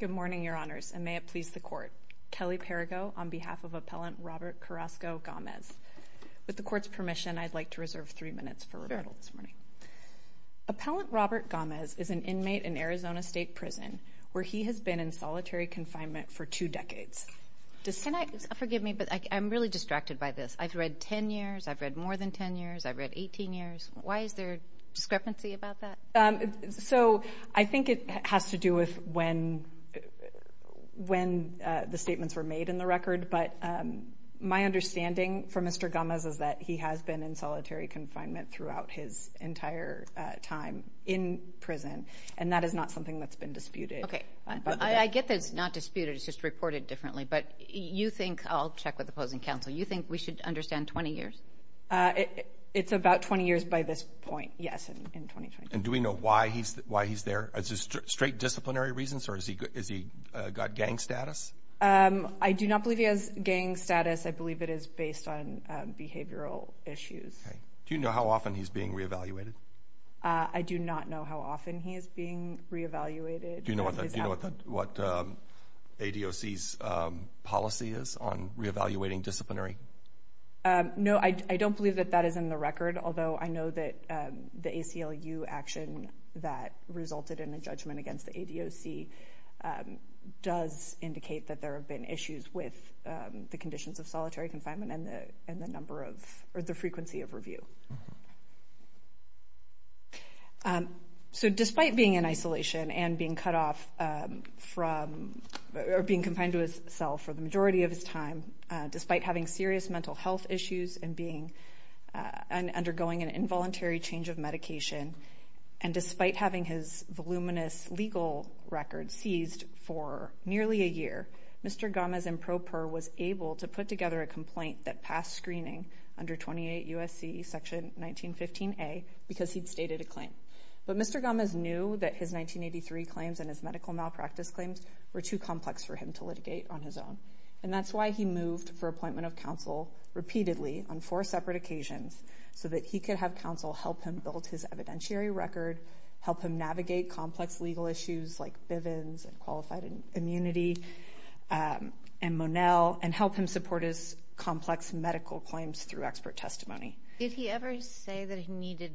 Good morning, Your Honors, and may it please the Court. Kelly Perrigo on behalf of Appellant Robert Carrasco Gamez. With the Court's permission, I'd like to reserve three minutes for rebuttal this morning. Appellant Robert Gamez is an inmate in Arizona State Prison where he has been in solitary confinement for two decades. Can I, forgive me, but I'm really distracted by this. I've read ten years, I've read more than ten years, I've read eighteen years. Why is there discrepancy about that? So, I think it has to do with when the statements were made in the record, but my understanding from Mr. Gamez is that he has been in solitary confinement throughout his entire time in prison, and that is not something that's been disputed. Okay, I get that it's not disputed, it's just reported differently, but you think, I'll check with the opposing counsel, you think we should understand twenty years? It's about twenty years by this point, yes, in 2020. And do we know why he's there? Is it straight disciplinary reasons, or has he got gang status? I do not believe he has gang status. I believe it is based on behavioral issues. Do you know how often he's being re-evaluated? I do not know how often he is being re-evaluated. Do you know what ADOC's policy is on re-evaluating disciplinary? No, I don't believe that that is in the record, although I know that the ACLU action that resulted in a judgment against the ADOC does indicate that there have been issues with the conditions of solitary confinement and the frequency of review. So, despite being in serious mental health issues and undergoing an involuntary change of medication, and despite having his voluminous legal record seized for nearly a year, Mr. Gomez and Pro Per was able to put together a complaint that passed screening under 28 U.S.C. section 1915a because he'd stated a claim. But Mr. Gomez knew that his 1983 claims and his medical malpractice claims were too complex for him to litigate on his own. And that's why he moved for appointment of counsel repeatedly on four separate occasions so that he could have counsel help him build his evidentiary record, help him navigate complex legal issues like Bivens and qualified immunity and Monell, and help him support his complex medical claims through expert testimony. Did he ever say that he needed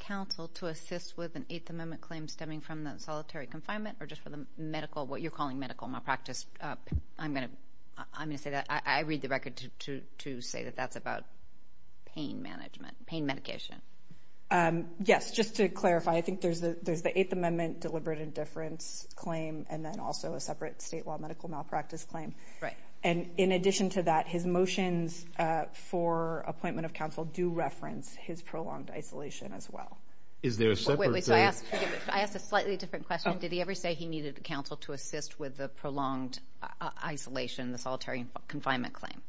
counsel to assist with an Eighth Amendment claim stemming from the solitary confinement or the medical, what you're calling medical malpractice? I'm going to say that. I read the record to say that that's about pain management, pain medication. Yes, just to clarify, I think there's the Eighth Amendment deliberate indifference claim and then also a separate state law medical malpractice claim. And in addition to that, his motions for appointment of counsel do reference his prolonged isolation as well. I asked a slightly different question. Did he ever say he needed counsel to assist with the prolonged isolation, the solitary confinement claim?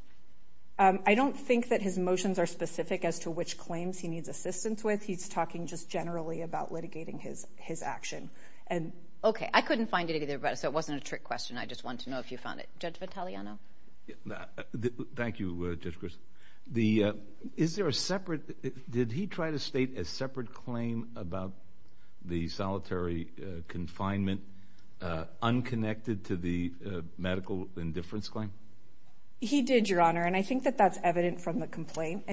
I don't think that his motions are specific as to which claims he needs assistance with. He's talking just generally about litigating his action. Okay, I couldn't find it either, but it wasn't a trick question. I just want to know if you found it. Judge Vitaliano. Thank you, Judge Grist. Is there a separate, did he try to state a separate claim about the solitary confinement, unconnected to the medical indifference claim? He did, Your Honor, and I think that that's evident from the complaint.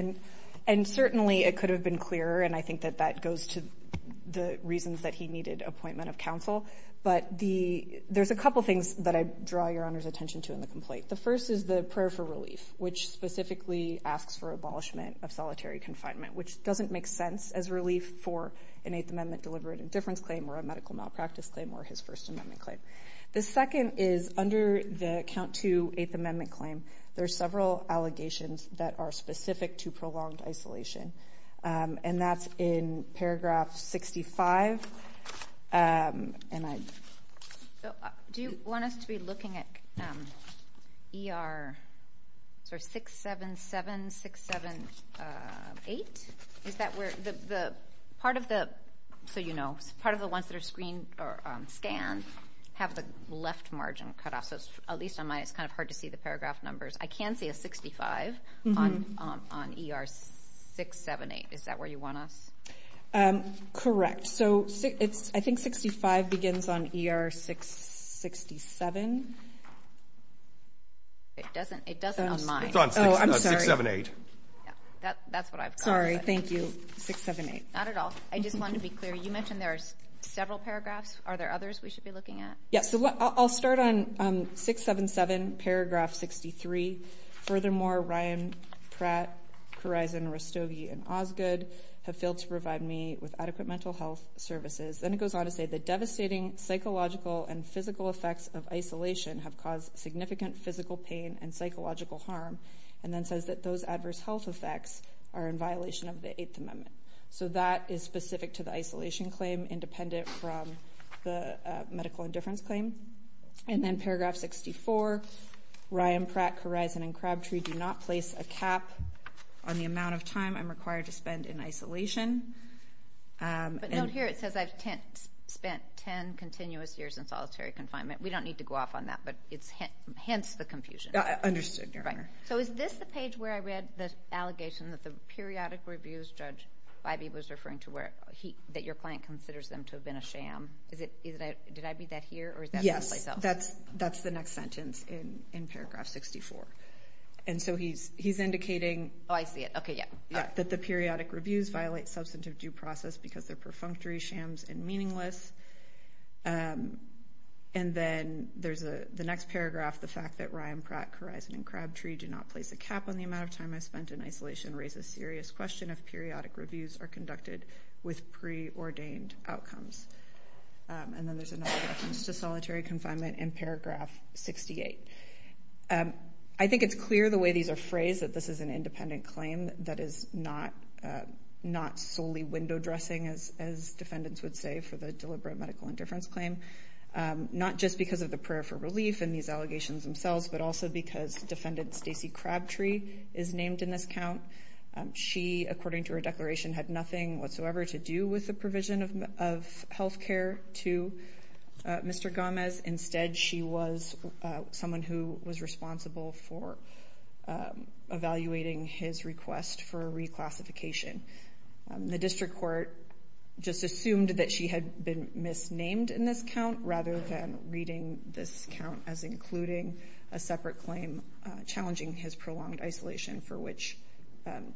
And certainly it could have been clearer, and I think that that goes to the reasons that he draw Your Honor's attention to in the complaint. The first is the prayer for relief, which specifically asks for abolishment of solitary confinement, which doesn't make sense as relief for an Eighth Amendment deliberate indifference claim or a medical malpractice claim or his First Amendment claim. The second is under the Count 2 Eighth Amendment claim, there are several allegations that are specific to prolonged isolation, and that's in paragraph 65. Do you want us to be looking at ER 677, 678? Is that where the part of the, so you know, part of the ones that are screened or scanned have the left margin cut off, so at least on mine it's kind of hard to see the I think 65 begins on ER 667. It doesn't. It doesn't on mine. It's on 678. That's what I've got. Sorry, thank you. 678. Not at all. I just wanted to be clear. You mentioned there are several paragraphs. Are there others we should be looking at? Yes, so I'll start on 677 paragraph 63. Furthermore, Ryan, Pratt, Kurizon, Rastogi, and Osgood have failed to provide me with adequate mental health services. Then it goes on to say the devastating psychological and physical effects of isolation have caused significant physical pain and psychological harm, and then says that those adverse health effects are in violation of the Eighth Amendment. So that is specific to the isolation claim, independent from the medical indifference claim. And then paragraph 64, Ryan, Pratt, Kurizon, and Crabtree do not place a cap on the amount of time I'm required to spend in isolation. But note here it says I've spent 10 continuous years in solitary confinement. We don't need to go off on that, but it hints the confusion. Understood, Your Honor. So is this the page where I read the allegation that the periodic reviews, Judge Ivey was referring to, that your client considers them to have been a sham? Did I read that here? Yes, that's the next sentence in paragraph 64. And so he's indicating that the periodic reviews violate substantive due process because they're perfunctory, shams, and meaningless. And then there's the next paragraph, the fact that Ryan, Pratt, Kurizon, and Crabtree do not place a cap on the amount of time I spent in isolation raises serious question if periodic reviews are conducted with preordained outcomes. And then there's another reference to solitary confinement in paragraph 68. I think it's clear the way these are phrased that this is an independent claim that is not solely window dressing, as defendants would say, for the deliberate medical indifference claim. Not just because of the prayer for relief in these allegations themselves, but also because defendant Stacey Crabtree is named in this count. She, according to her declaration, had nothing whatsoever to do with the provision of health care to Mr. Gomez. Instead, she was someone who was responsible for evaluating his request for reclassification. The district court just assumed that she had been misnamed in this count rather than reading this count as including a separate claim challenging his prolonged isolation for which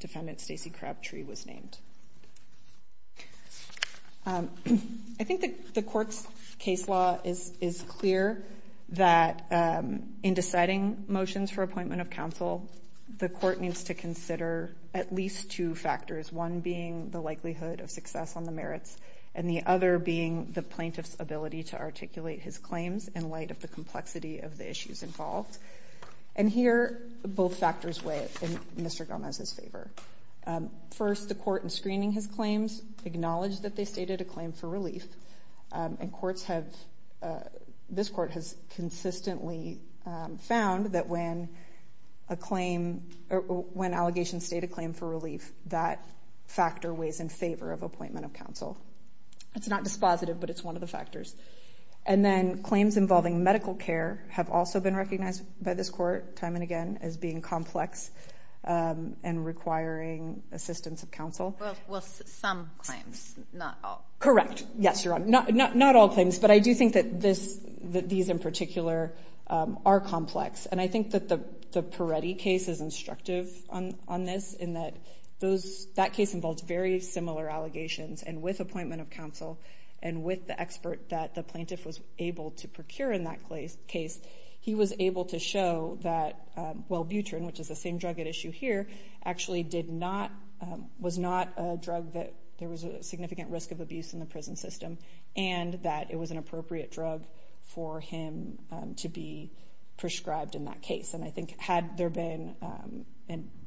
defendant Stacey Crabtree was named. I think the court's case law is clear that in deciding motions for appointment of counsel, the court needs to consider at least two factors, one being the likelihood of success on the merits and the other being the plaintiff's ability to articulate his claims in light of the complexity of the issues involved. Here, both factors weigh in Mr. Gomez's favor. First, the court in screening his claims acknowledged that they stated a claim for relief. This court has consistently found that when allegations state a claim for relief, that factor weighs in favor of appointment of counsel. It's not dispositive, but it's one of the factors. And then claims involving medical care have also been recognized by this court time and again as being complex and requiring assistance of counsel. Well, some claims, not all. But I do think that these in particular are complex. And I think that the Peretti case is instructive on this in that that case involves very similar allegations. And with appointment of counsel and with the expert that the plaintiff was able to procure in that case, he was able to show that Wellbutrin, which is the same drug at issue here, actually did not, was not a drug that there was a significant risk of abuse in the prison system and that it was an appropriate drug for him to be prescribed in that case. And I think had there been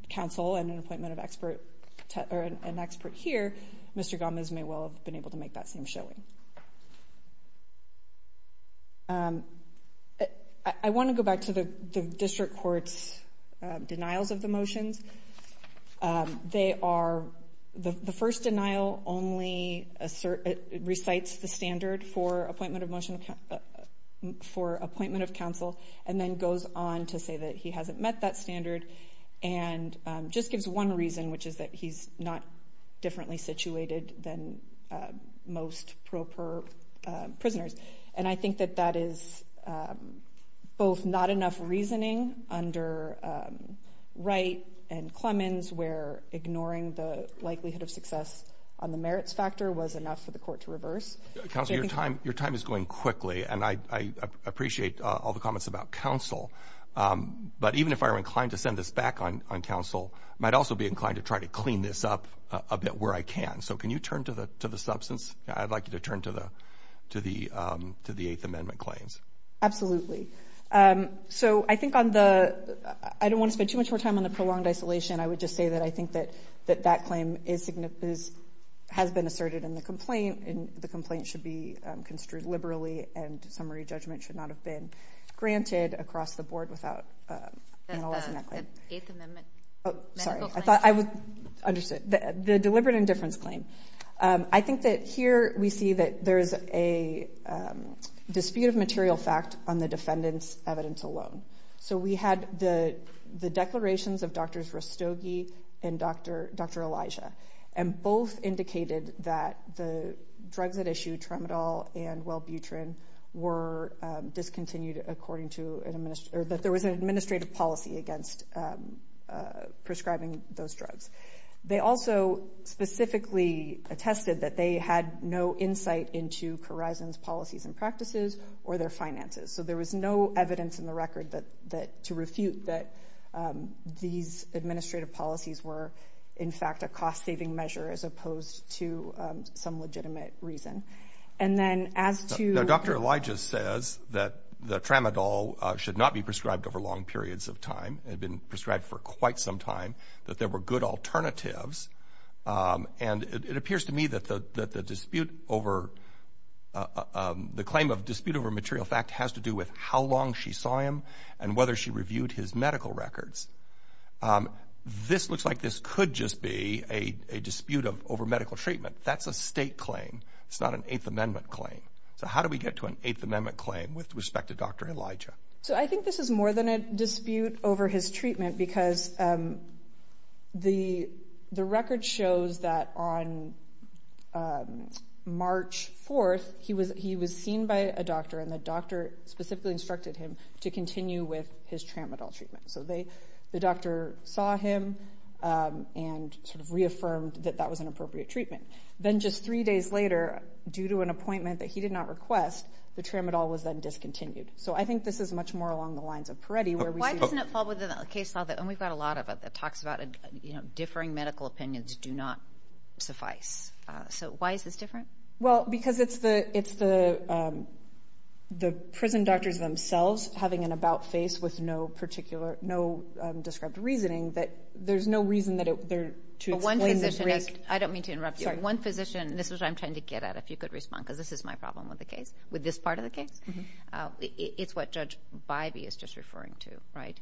counsel and an appointment of expert or an expert here, Mr. Gomez may well have been able to make that same showing. I want to go back to the district court's denials of the motions. They are the first denial only recites the standard for appointment of motion for appointment of counsel and then goes on to say that he hasn't met that standard. And just gives one reason, which is that he's not differently situated than most proper prisoners. And I think that that is both not enough reasoning under Wright and Clemens where ignoring the likelihood of success on the merits factor was enough for the court to reverse. Counsel, your time is going quickly, and I appreciate all the comments about counsel. But even if I were inclined to send this back on counsel, I might also be inclined to try to clean this up a bit where I can. So can you turn to the substance? I'd like you to turn to the to the to the Eighth Amendment claims. Absolutely. So I think on the I don't want to spend too much more time on the prolonged isolation. I would just say that I think that that that claim is has been asserted in the complaint and the complaint should be construed liberally and summary judgment should not have been granted across the board without. Eighth Amendment. Oh, sorry. I thought I would understand the deliberate indifference claim. I think that here we see that there is a dispute of material fact on the defendant's evidence alone. So we had the the declarations of Drs. Rastogi and Dr. Dr. Elijah and both indicated that the drugs that issue Tramadol and Wellbutrin were discontinued, according to an administrator that there was an administrative error. Administrative policy against prescribing those drugs. They also specifically attested that they had no insight into horizons, policies and practices or their finances. So there was no evidence in the record that that to refute that these administrative policies were, in fact, a cost saving measure as opposed to some legitimate reason. And then as to Dr. Elijah says that the tramadol should not be prescribed over long periods of time had been prescribed for quite some time, that there were good alternatives. And it appears to me that the dispute over the claim of dispute over material fact has to do with how long she saw him and whether she reviewed his medical records. This looks like this could just be a dispute over medical treatment. That's a state claim. It's not an Eighth Amendment claim. So how do we get to an Eighth Amendment claim with respect to Dr. Elijah? So I think this is more than a dispute over his treatment, because the the record shows that on March 4th, he was he was seen by a doctor and the doctor specifically instructed him to continue with his tramadol treatment. So they the doctor saw him and sort of reaffirmed that that was an appropriate treatment. Then just three days later, due to an appointment that he did not request, the tramadol was then discontinued. So I think this is much more along the lines of Peretti. Why doesn't it fall within the case law? And we've got a lot of it that talks about, you know, differing medical opinions do not suffice. So why is this different? Well, because it's the it's the the prison doctors themselves having an about face with no particular no described reasoning that there's no reason that they're to explain. I don't mean to interrupt one physician. This is what I'm trying to get at. If you could respond, because this is my problem with the case with this part of the case. It's what Judge Bybee is just referring to. Right.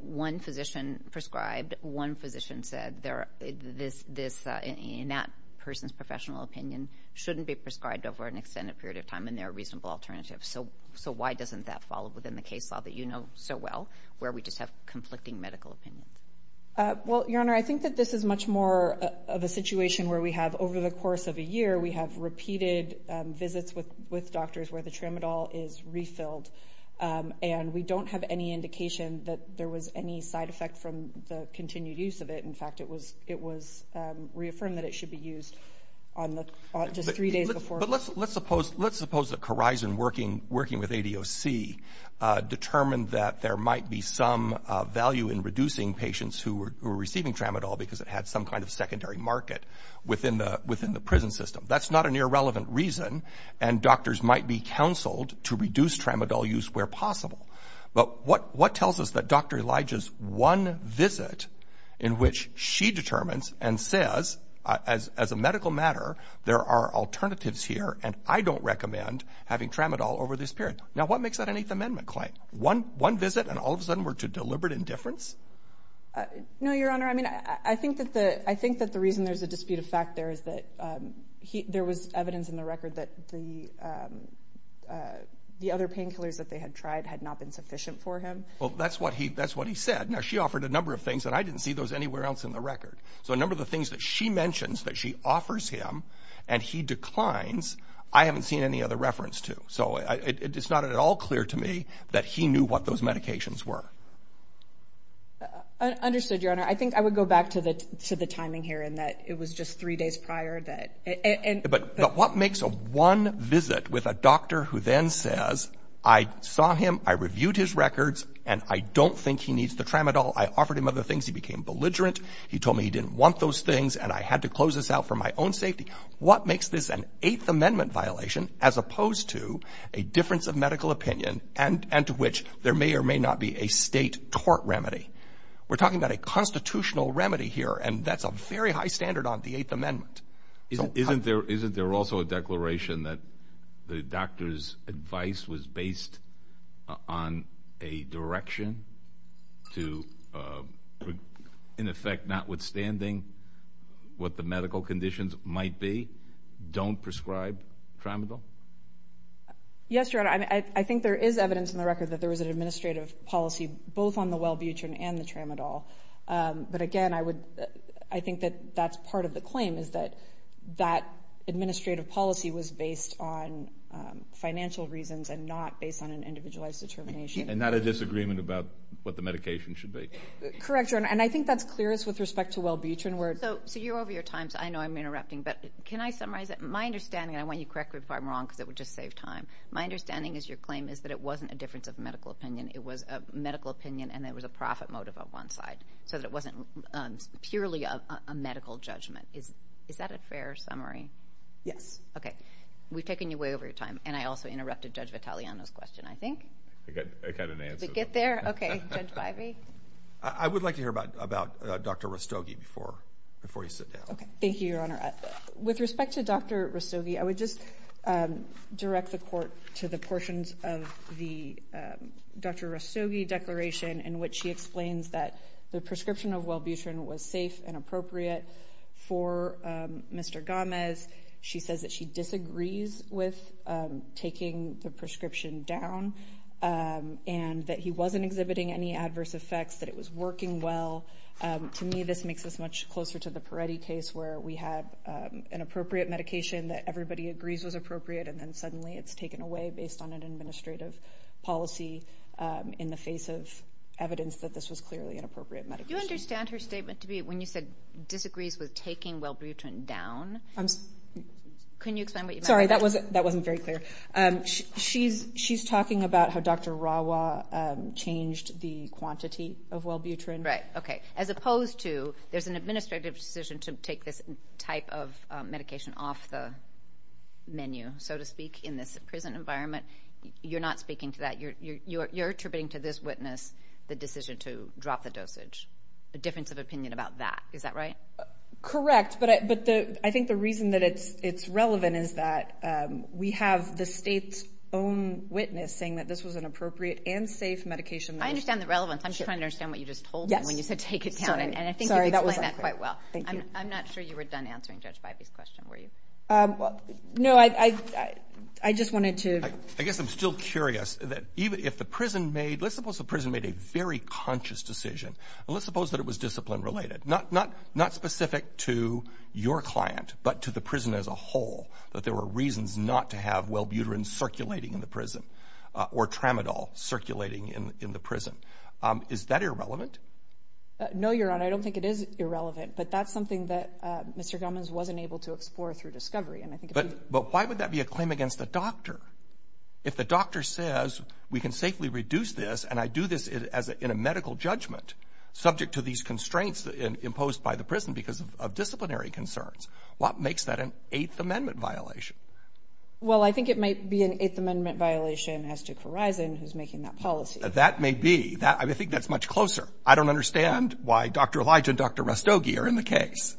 One physician prescribed one physician said there this this in that person's professional opinion shouldn't be prescribed over an extended period of time. And there are reasonable alternatives. So so why doesn't that fall within the case law that you know so well where we just have conflicting medical opinions? Well, Your Honor, I think that this is much more of a situation where we have over the course of a year, we have repeated visits with with doctors where the tramadol is refilled and we don't have any indication that there was any side effect from the continued use of it. In fact, it was it was reaffirmed that it should be used on the just three days before. But let's let's suppose let's suppose the horizon working working with ADOC determined that there might be some value in reducing patients who were receiving tramadol because it had some kind of secondary market within the within the prison system. That's not an irrelevant reason. And doctors might be counseled to reduce tramadol use where possible. But what what tells us that Dr. Elijah's one visit in which she determines and says, as as a medical matter, there are alternatives here and I don't recommend having tramadol over this period. Now, what makes that an Eighth Amendment claim? One one visit and all of a sudden we're to deliberate indifference. No, Your Honor. I mean, I think that the I think that the reason there's a dispute of fact there is that there was evidence in the record that the the other painkillers that they had tried had not been sufficient for him. Well, that's what he that's what he said. Now, she offered a number of things that I didn't see those anywhere else in the record. So a number of the things that she mentions that she offers him and he declines. I haven't seen any other reference to. So it's not at all clear to me that he knew what those medications were. Understood, Your Honor. I think I would go back to the to the timing here and that it was just three days prior that. And but what makes a one visit with a doctor who then says, I saw him, I reviewed his records and I don't think he needs the tramadol. I offered him other things. He became belligerent. He told me he didn't want those things. And I had to close this out for my own safety. What makes this an Eighth Amendment violation as opposed to a difference of medical opinion and and to which there may or may not be a state court remedy? We're talking about a constitutional remedy here, and that's a very high standard on the Eighth Amendment. Isn't there isn't there also a declaration that the doctor's advice was based on a direction to, in effect, notwithstanding what the medical conditions might be, don't prescribe tramadol? Yes, Your Honor, I think there is evidence in the record that there was an administrative policy both on the Wellbutrin and the tramadol. But again, I would I think that that's part of the claim is that that administrative policy was based on financial reasons and not based on an individualized determination and not a disagreement about what the medication should be. Correct, Your Honor, and I think that's clearest with respect to Wellbutrin. So you're over your time, so I know I'm interrupting, but can I summarize it? My understanding, and I want you to correct me if I'm wrong because it would just save time. My understanding is your claim is that it wasn't a difference of medical opinion. It was a medical opinion and there was a profit motive on one side so that it wasn't purely a medical judgment. Is that a fair summary? Yes. Okay, we've taken you way over your time, and I also interrupted Judge Vitaliano's question, I think. I got an answer. Did we get there? Okay, Judge Bivey? I would like to hear about Dr. Rastogi before you sit down. Okay, thank you, Your Honor. With respect to Dr. Rastogi, I would just direct the court to the portions of the Dr. Rastogi declaration in which she explains that the prescription of Wellbutrin was safe and appropriate for Mr. Gomez. She says that she disagrees with taking the prescription down and that he wasn't exhibiting any adverse effects, that it was working well. To me, this makes us much closer to the Peretti case where we have an appropriate medication that everybody agrees was appropriate, and then suddenly it's taken away based on an administrative policy in the face of evidence that this was clearly an appropriate medication. Do you understand her statement to be when you said disagrees with taking Wellbutrin down? Can you explain what you meant? Sorry, that wasn't very clear. She's talking about how Dr. Rawa changed the quantity of Wellbutrin. Right, okay. As opposed to there's an administrative decision to take this type of medication off the menu, so to speak, in this prison environment. You're not speaking to that. You're attributing to this witness the decision to drop the dosage, a difference of opinion about that. Is that right? Correct, but I think the reason that it's relevant is that we have the state's own witness saying that this was an appropriate and safe medication. I understand the relevance. I'm just trying to understand what you just told me when you said take it down, and I think you explained that quite well. I'm not sure you were done answering Judge Bybee's question, were you? No, I just wanted to. I guess I'm still curious. Let's suppose the prison made a very conscious decision, and let's suppose that it was discipline related, not specific to your client, but to the prison as a whole, that there were reasons not to have Wellbutrin circulating in the prison or Tramadol circulating in the prison. Is that irrelevant? No, Your Honor, I don't think it is irrelevant, but that's something that Mr. Gomez wasn't able to explore through discovery. But why would that be a claim against the doctor? If the doctor says we can safely reduce this, and I do this in a medical judgment subject to these constraints imposed by the prison because of disciplinary concerns, what makes that an Eighth Amendment violation? Well, I think it might be an Eighth Amendment violation as to Corizon, who's making that policy. That may be. I think that's much closer. I don't understand why Dr. Elijah and Dr. Rastogi are in the case.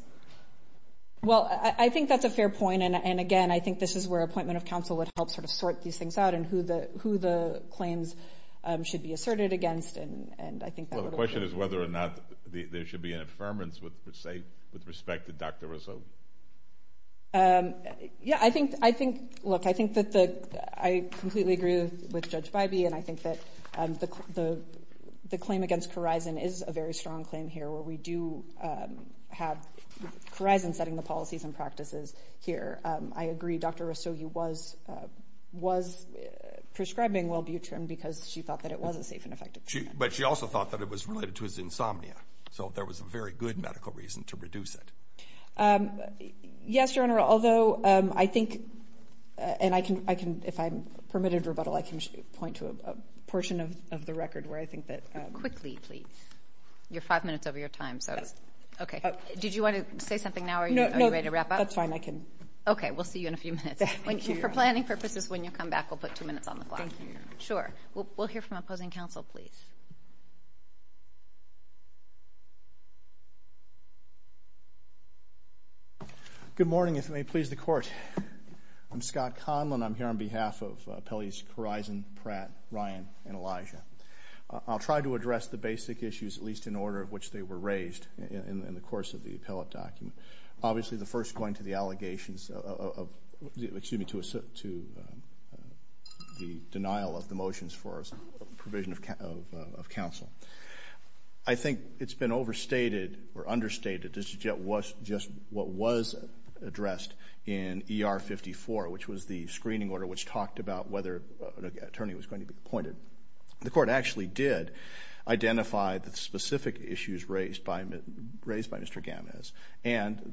Well, I think that's a fair point. And, again, I think this is where an appointment of counsel would help sort of sort these things out and who the claims should be asserted against. Well, the question is whether or not there should be an affirmance with respect to Dr. Rastogi. Yeah, I think – look, I think that the – I completely agree with Judge Bybee, and I think that the claim against Corizon is a very strong claim here where we do have Corizon setting the policies and practices here. I agree Dr. Rastogi was prescribing wellbutrin because she thought that it was a safe and effective treatment. But she also thought that it was related to his insomnia, so there was a very good medical reason to reduce it. Yes, Your Honor, although I think – and I can – if I'm permitted rebuttal, I can point to a portion of the record where I think that – Quickly, please. You're five minutes over your time, so – Yes. Okay. Did you want to say something now or are you ready to wrap up? No, that's fine. I can – Okay. We'll see you in a few minutes. Thank you, Your Honor. For planning purposes, when you come back, we'll put two minutes on the clock. Thank you. Sure. We'll hear from opposing counsel, please. Good morning. If it may please the Court, I'm Scott Conlon. I'm here on behalf of Appellees Corizon, Pratt, Ryan, and Elijah. I'll try to address the basic issues, at least in order of which they were raised in the course of the appellate document. Obviously, the first going to the allegations of – excuse me, to the denial of the motions for provision of counsel. I think it's been overstated or understated just what was addressed in ER 54, which was the screening order, which talked about whether an attorney was going to be appointed. The Court actually did identify the specific issues raised by Mr. Gamez, and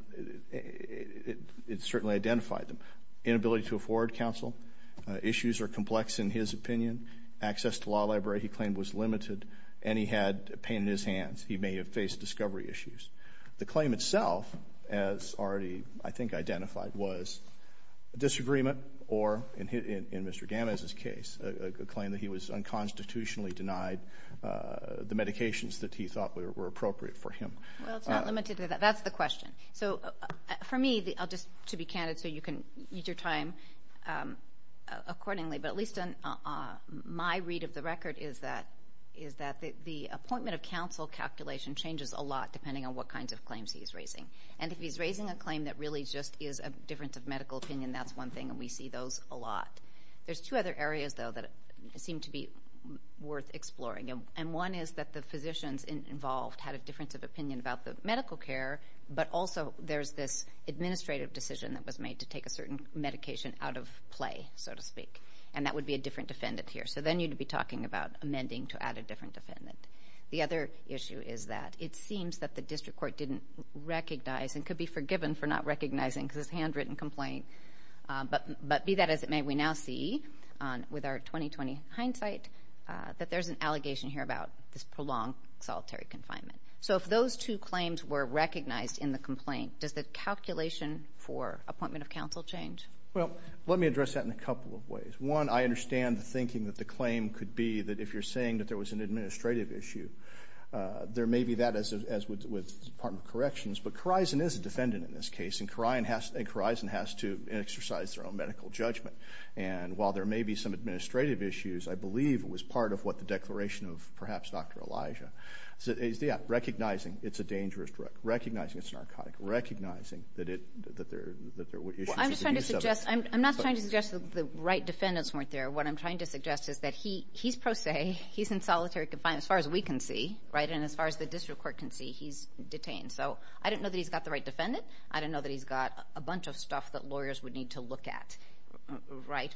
it certainly identified them. Inability to afford counsel. Issues are complex in his opinion. Access to the law library, he claimed, was limited, and he had pain in his hands. He may have faced discovery issues. The claim itself, as already, I think, identified, was a disagreement or, in Mr. Gamez's case, a claim that he was unconstitutionally denied the medications that he thought were appropriate for him. Well, it's not limited to that. That's the question. For me, just to be candid so you can use your time accordingly, but at least my read of the record is that the appointment of counsel calculation changes a lot, depending on what kinds of claims he's raising. And if he's raising a claim that really just is a difference of medical opinion, that's one thing, and we see those a lot. There's two other areas, though, that seem to be worth exploring. And one is that the physicians involved had a difference of opinion about the medical care, but also there's this administrative decision that was made to take a certain medication out of play, so to speak, and that would be a different defendant here. So then you'd be talking about amending to add a different defendant. The other issue is that it seems that the district court didn't recognize and could be forgiven for not recognizing this handwritten complaint, but be that as it may, we now see, with our 2020 hindsight, that there's an allegation here about this prolonged solitary confinement. So if those two claims were recognized in the complaint, does the calculation for appointment of counsel change? Well, let me address that in a couple of ways. One, I understand the thinking that the claim could be that if you're saying that there was an administrative issue, there may be that, as with the Department of Corrections, but Corizon is a defendant in this case, and Corizon has to exercise their own medical judgment. And while there may be some administrative issues, I believe it was part of what the declaration of perhaps Dr. Elijah. So, yeah, recognizing it's a dangerous drug, recognizing it's narcotic, recognizing that there were issues with the use of it. I'm not trying to suggest that the right defendants weren't there. What I'm trying to suggest is that he's pro se, he's in solitary confinement as far as we can see, right, and as far as the district court can see, he's detained. So I don't know that he's got the right defendant. I don't know that he's got a bunch of stuff that lawyers would need to look at.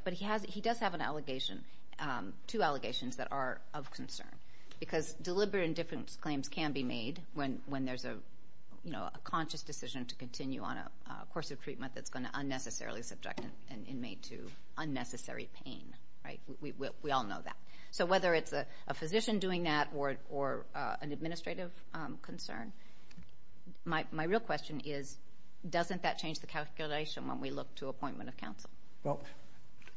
But he does have an allegation, two allegations that are of concern, because deliberate indifference claims can be made when there's a conscious decision to continue on a course of treatment that's going to unnecessarily subject an inmate to unnecessary pain. We all know that. So whether it's a physician doing that or an administrative concern, my real question is doesn't that change the calculation when we look to appointment of counsel? Well,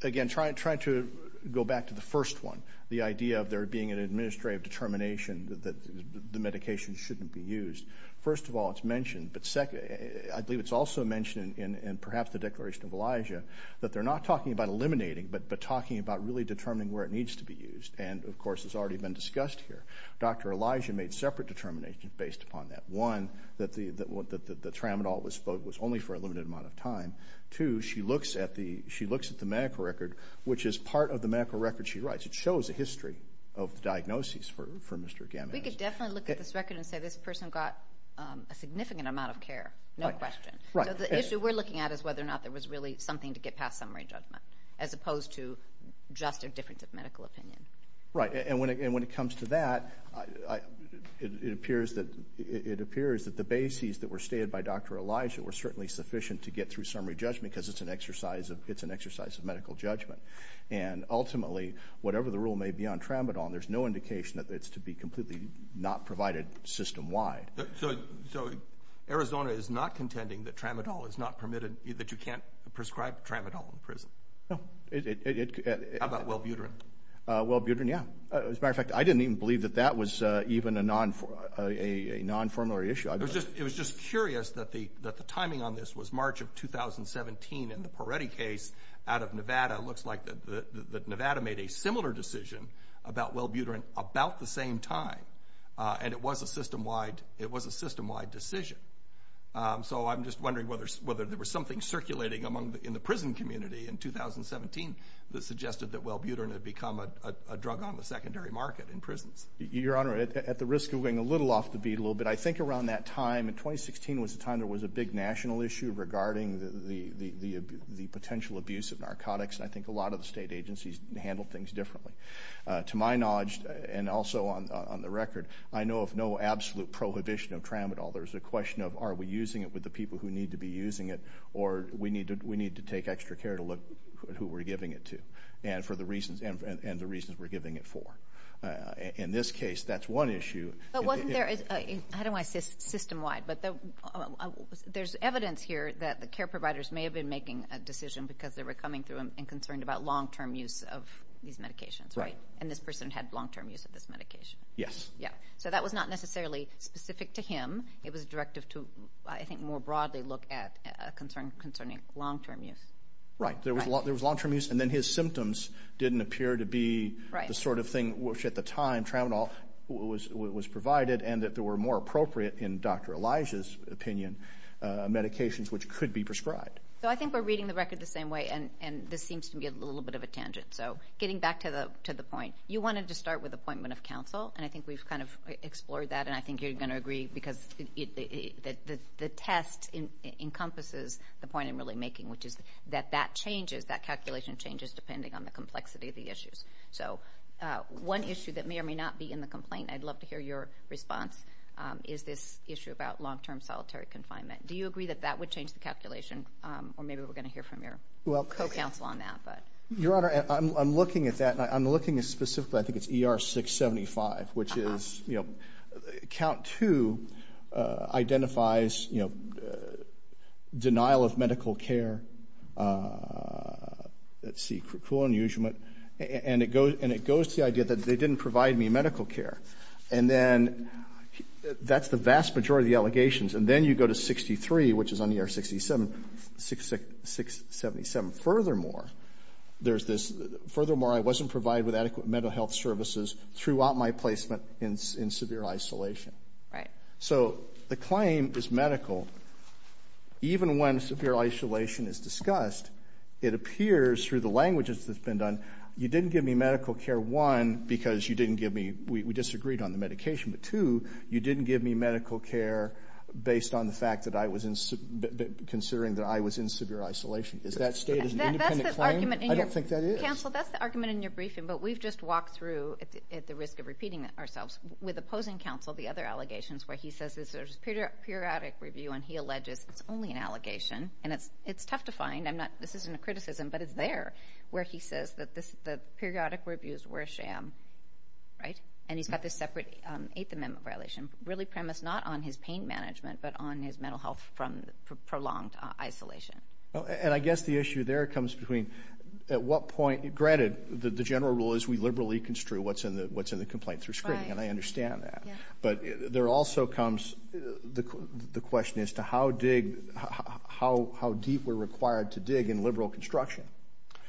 again, trying to go back to the first one, the idea of there being an administrative determination that the medication shouldn't be used. First of all, it's mentioned, but second, I believe it's also mentioned in perhaps the declaration of Elijah that they're not talking about eliminating but talking about really determining where it needs to be used. And, of course, it's already been discussed here. Dr. Elijah made separate determinations based upon that. One, that the tramadol was only for a limited amount of time. Two, she looks at the medical record, which is part of the medical record she writes. It shows a history of diagnoses for Mr. Gamage. We could definitely look at this record and say this person got a significant amount of care, no question. So the issue we're looking at is whether or not there was really something to get past summary judgment as opposed to just a difference of medical opinion. Right. And when it comes to that, it appears that the bases that were stated by Dr. Elijah were certainly sufficient to get through summary judgment because it's an exercise of medical judgment. And ultimately, whatever the rule may be on tramadol, there's no indication that it's to be completely not provided system-wide. So Arizona is not contending that tramadol is not permitted, that you can't prescribe tramadol in prison? No. How about Welbuterin? Welbuterin, yeah. As a matter of fact, I didn't even believe that that was even a non-formular issue. It was just curious that the timing on this was March of 2017 and the Peretti case out of Nevada looks like that Nevada made a similar decision about Welbuterin about the same time. And it was a system-wide decision. So I'm just wondering whether there was something circulating in the prison community in 2017 that suggested that Welbuterin had become a drug on the secondary market in prisons. Your Honor, at the risk of going a little off the beat a little bit, I think around that time in 2016 was a time there was a big national issue regarding the potential abuse of narcotics, and I think a lot of the state agencies handled things differently. To my knowledge, and also on the record, I know of no absolute prohibition of tramadol. There's a question of are we using it with the people who need to be using it or we need to take extra care to look at who we're giving it to and the reasons we're giving it for. In this case, that's one issue. But wasn't there a – I don't want to say system-wide, but there's evidence here that the care providers may have been making a decision because they were coming through and concerned about long-term use of these medications, right? And this person had long-term use of this medication. Yes. Yeah, so that was not necessarily specific to him. It was a directive to, I think, more broadly look at a concern concerning long-term use. Right, there was long-term use, and then his symptoms didn't appear to be the sort of thing which at the time tramadol was provided and that there were more appropriate, in Dr. Elijah's opinion, medications which could be prescribed. So I think we're reading the record the same way, and this seems to be a little bit of a tangent. So getting back to the point, you wanted to start with appointment of counsel, and I think we've kind of explored that, and I think you're going to agree because the test encompasses the point I'm really making, which is that that changes, that calculation changes depending on the complexity of the issues. So one issue that may or may not be in the complaint, I'd love to hear your response, is this issue about long-term solitary confinement. Do you agree that that would change the calculation? Or maybe we're going to hear from your co-counsel on that. Your Honor, I'm looking at that, and I'm looking at specifically, I think it's ER 675, which is Count 2 identifies denial of medical care, let's see, cruel unusual, and it goes to the idea that they didn't provide me medical care. And then that's the vast majority of the allegations. And then you go to 63, which is on ER 677. Furthermore, I wasn't provided with adequate mental health services throughout my placement in severe isolation. Right. So the claim is medical. Even when severe isolation is discussed, it appears through the language that's been done, you didn't give me medical care, one, because you didn't give me, we disagreed on the medication, but two, you didn't give me medical care based on the fact that I was in, considering that I was in severe isolation. Is that stated as an independent claim? I don't think that is. Counsel, that's the argument in your briefing, but we've just walked through, at the risk of repeating ourselves, with opposing counsel the other allegations where he says there's periodic review This isn't a criticism, but it's there where he says that the periodic reviews were a sham. And he's got this separate Eighth Amendment violation really premised not on his pain management but on his mental health from prolonged isolation. And I guess the issue there comes between at what point, granted the general rule is we liberally construe what's in the complaint through screening, and I understand that. But there also comes the question as to how deep we're required to dig in liberal construction.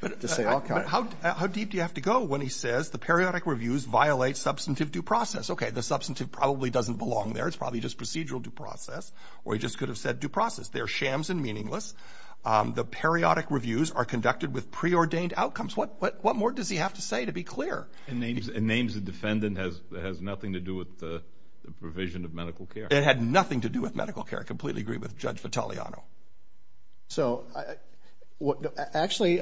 How deep do you have to go when he says the periodic reviews violate substantive due process? Okay, the substantive probably doesn't belong there. It's probably just procedural due process. Or he just could have said due process. They're shams and meaningless. The periodic reviews are conducted with preordained outcomes. What more does he have to say to be clear? And names the defendant has nothing to do with the provision of medical care. It had nothing to do with medical care. I completely agree with Judge Vitaleano. Actually,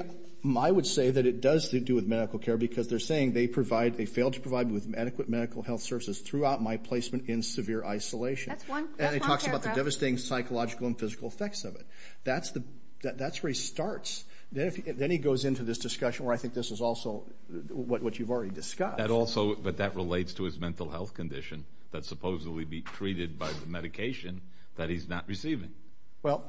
I would say that it does have to do with medical care because they're saying they failed to provide me with adequate medical health services throughout my placement in severe isolation. And he talks about the devastating psychological and physical effects of it. That's where he starts. Then he goes into this discussion where I think this is also what you've already discussed. But that relates to his mental health condition that's supposedly treated by the medication that he's not receiving. Well,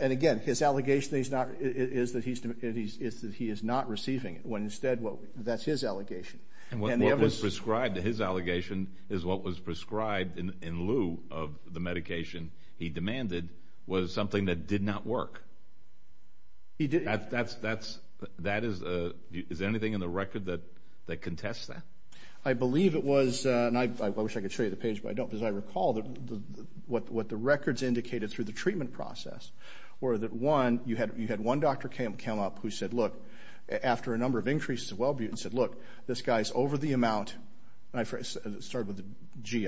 and again, his allegation is that he is not receiving it, when instead that's his allegation. And what was prescribed to his allegation is what was prescribed in lieu of the medication he demanded was something that did not work. Is there anything in the record that contests that? I believe it was, and I wish I could show you the page, but I don't because I recall what the records indicated through the treatment process were that, one, you had one doctor come up who said, look, after a number of increases of Welbutin, said, look, this guy's over the amount. And it started with a G.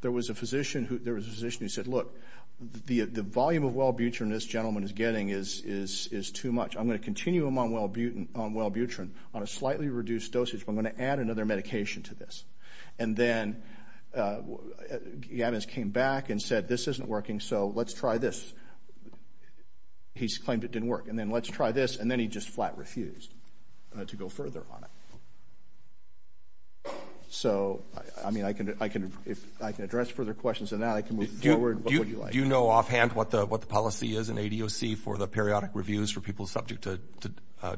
There was a physician who said, look, the volume of Welbutrin this gentleman is getting is too much. I'm going to continue him on Welbutrin on a slightly reduced dosage, but I'm going to add another medication to this. And then Gavis came back and said, this isn't working, so let's try this. He claimed it didn't work. And then let's try this. And then he just flat refused to go further on it. So, I mean, I can address further questions on that. I can move forward. What would you like? Do you know offhand what the policy is in ADOC for the periodic reviews for people subject to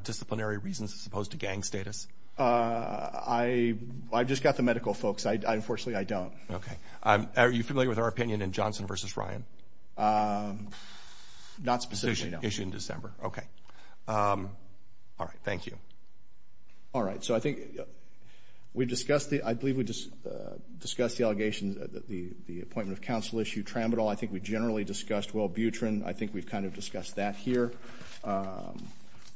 disciplinary reasons as opposed to gang status? I've just got the medical folks. Unfortunately, I don't. Okay. Are you familiar with our opinion in Johnson v. Ryan? Not specifically, no. Issued in December. Okay. All right. Thank you. All right. So I think we've discussed the allegations, the appointment of counsel issue, Tramadol. I think we generally discussed Welbutrin. I think we've kind of discussed that here.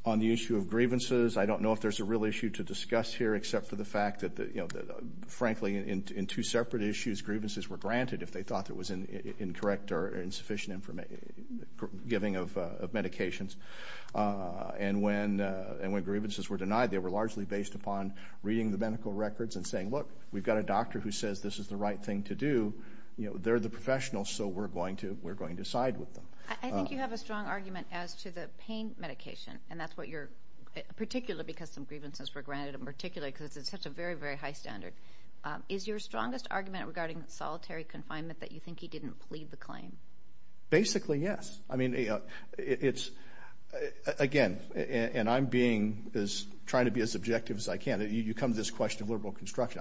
On the issue of grievances, I don't know if there's a real issue to discuss here, except for the fact that, frankly, in two separate issues, grievances were granted if they thought it was incorrect or insufficient giving of medications. And when grievances were denied, they were largely based upon reading the medical records and saying, look, we've got a doctor who says this is the right thing to do. They're the professionals, so we're going to side with them. I think you have a strong argument as to the pain medication, and that's what you're particular because some grievances were granted in particular because it's such a very, very high standard. Is your strongest argument regarding solitary confinement that you think he didn't plead the claim? Basically, yes. I mean, it's, again, and I'm being as trying to be as objective as I can. You come to this question of liberal construction.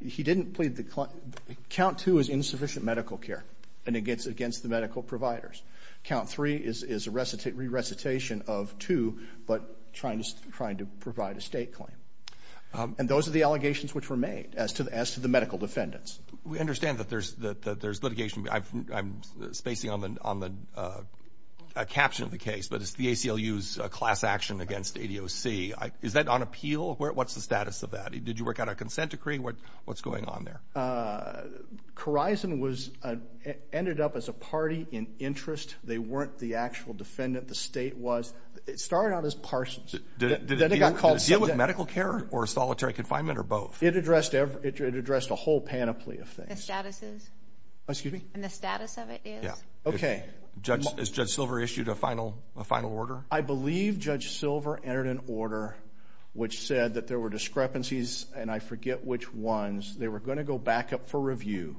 He didn't plead the claim. Count two is insufficient medical care and against the medical providers. Count three is a recitation of two, but trying to provide a state claim. And those are the allegations which were made as to the medical defendants. We understand that there's litigation. I'm spacing on the caption of the case, but it's the ACLU's class action against ADOC. Is that on appeal? What's the status of that? Did you work out a consent decree? What's going on there? Khorizon ended up as a party in interest. They weren't the actual defendant. The state was. It started out as parsons. Did it deal with medical care or solitary confinement or both? It addressed a whole panoply of things. The statuses? Excuse me? And the status of it is? Yeah. Okay. Has Judge Silver issued a final order? I believe Judge Silver entered an order which said that there were discrepancies, and I forget which ones. They were going to go back up for review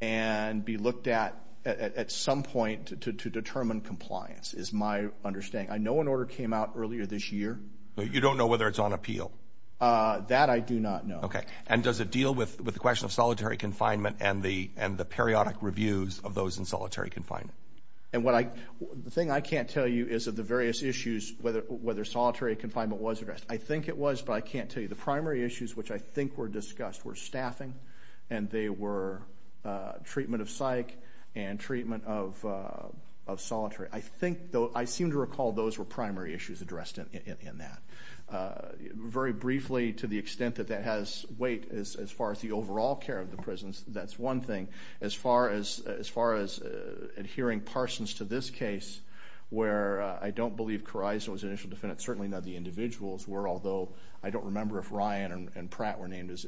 and be looked at at some point to determine compliance is my understanding. I know an order came out earlier this year. You don't know whether it's on appeal? That I do not know. Okay. And does it deal with the question of solitary confinement and the periodic reviews of those in solitary confinement? The thing I can't tell you is of the various issues whether solitary confinement was addressed. I think it was, but I can't tell you. The primary issues which I think were discussed were staffing, and they were treatment of psych and treatment of solitary. I seem to recall those were primary issues addressed in that. Very briefly, to the extent that that has weight as far as the overall care of the prisons, that's one thing. As far as adhering Parsons to this case, where I don't believe Corizo was an initial defendant, certainly none of the individuals were, although I don't remember if Ryan and Pratt were named as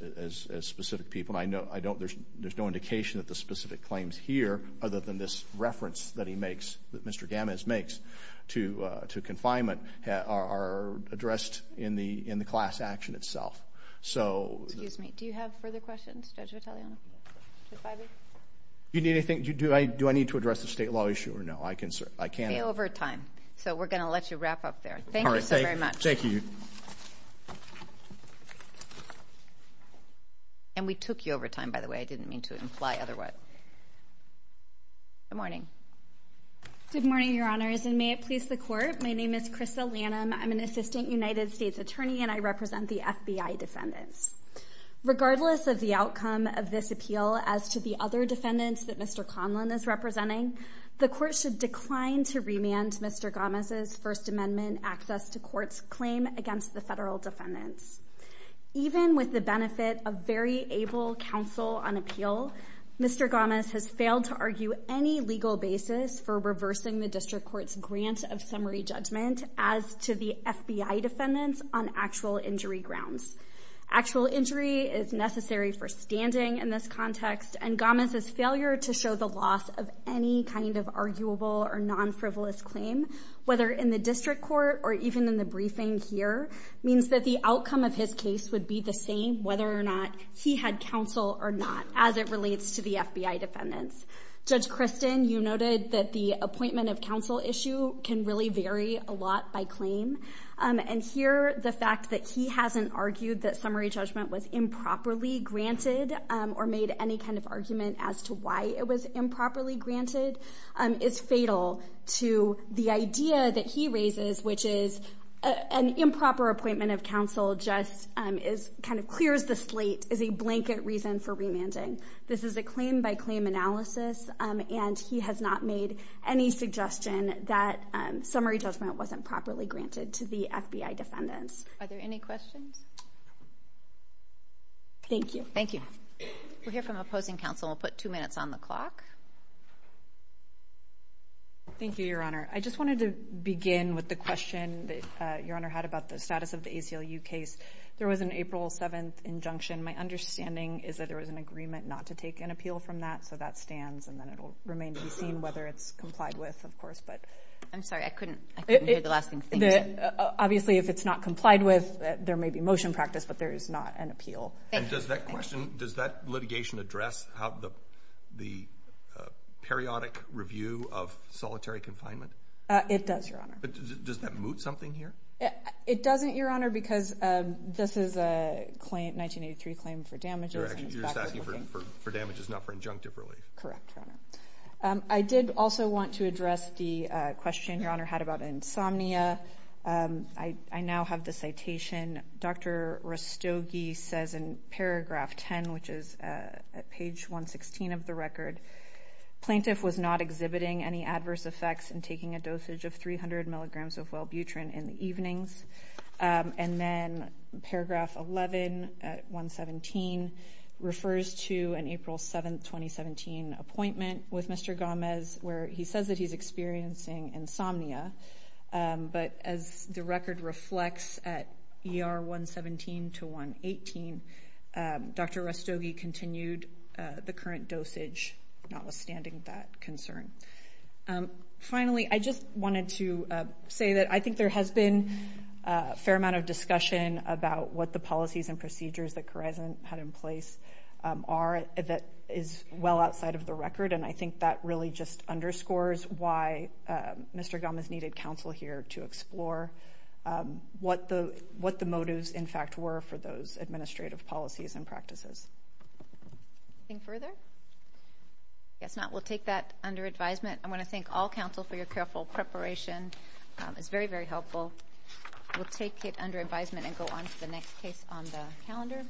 specific people. There's no indication that the specific claims here, other than this reference that he makes, that Mr. Gamez makes to confinement, are addressed in the class action itself. Excuse me. Do you have further questions, Judge Vitaleano? Do I need to address the state law issue or no? I can. You're over time, so we're going to let you wrap up there. Thank you so very much. Thank you. And we took you over time, by the way. I didn't mean to imply otherwise. Good morning. Good morning, Your Honors, and may it please the Court. My name is Krista Lanham. I'm an assistant United States attorney, and I represent the FBI defendants. Regardless of the outcome of this appeal as to the other defendants that Mr. Conlon is representing, the Court should decline to remand Mr. Gamez's First Amendment access to court's claim against the federal defendants. Even with the benefit of very able counsel on appeal, Mr. Gamez has failed to argue any legal basis for reversing the district court's grant of summary judgment as to the FBI defendants on actual injury grounds. Actual injury is necessary for standing in this context, and Gamez's failure to show the loss of any kind of arguable or non-frivolous claim, whether in the district court or even in the briefing here, means that the outcome of his case would be the same whether or not he had counsel or not as it relates to the FBI defendants. Judge Kristen, you noted that the appointment of counsel issue can really vary a lot by claim, and here the fact that he hasn't argued that summary judgment was improperly granted or made any kind of argument as to why it was improperly granted is fatal to the idea that he raises, which is an improper appointment of counsel just kind of clears the slate as a blanket reason for remanding. This is a claim-by-claim analysis, and he has not made any suggestion that summary judgment wasn't properly granted to the FBI defendants. Are there any questions? Thank you. Thank you. We'll hear from opposing counsel. We'll put two minutes on the clock. Thank you, Your Honor. I just wanted to begin with the question that Your Honor had about the status of the ACLU case. There was an April 7th injunction. My understanding is that there was an agreement not to take an appeal from that, so that stands, and then it will remain to be seen whether it's complied with, of course. I'm sorry, I couldn't hear the last thing you said. Obviously, if it's not complied with, there may be motion practice, but there is not an appeal. And does that question, does that litigation address the periodic review of solitary confinement? It does, Your Honor. Does that moot something here? It doesn't, Your Honor, because this is a 1983 claim for damages. You're asking for damages, not for injunctive relief. Correct, Your Honor. I did also want to address the question Your Honor had about insomnia. I now have the citation. Dr. Rastogi says in paragraph 10, which is at page 116 of the record, Plaintiff was not exhibiting any adverse effects in taking a dosage of 300 milligrams of wellbutrin in the evenings. And then paragraph 11 at 117 refers to an April 7th, 2017 appointment with Mr. Gomez, where he says that he's experiencing insomnia. But as the record reflects at ER 117 to 118, Dr. Rastogi continued the current dosage, notwithstanding that concern. Finally, I just wanted to say that I think there has been a fair amount of discussion about what the policies and procedures that Khorasan had in place are that is well outside of the record. And I think that really just underscores why Mr. Gomez needed counsel here to explore what the motives, in fact, were for those administrative policies and practices. Anything further? I guess not. We'll take that under advisement. I want to thank all counsel for your careful preparation. It's very, very helpful. We'll take it under advisement and go on to the next case on the calendar.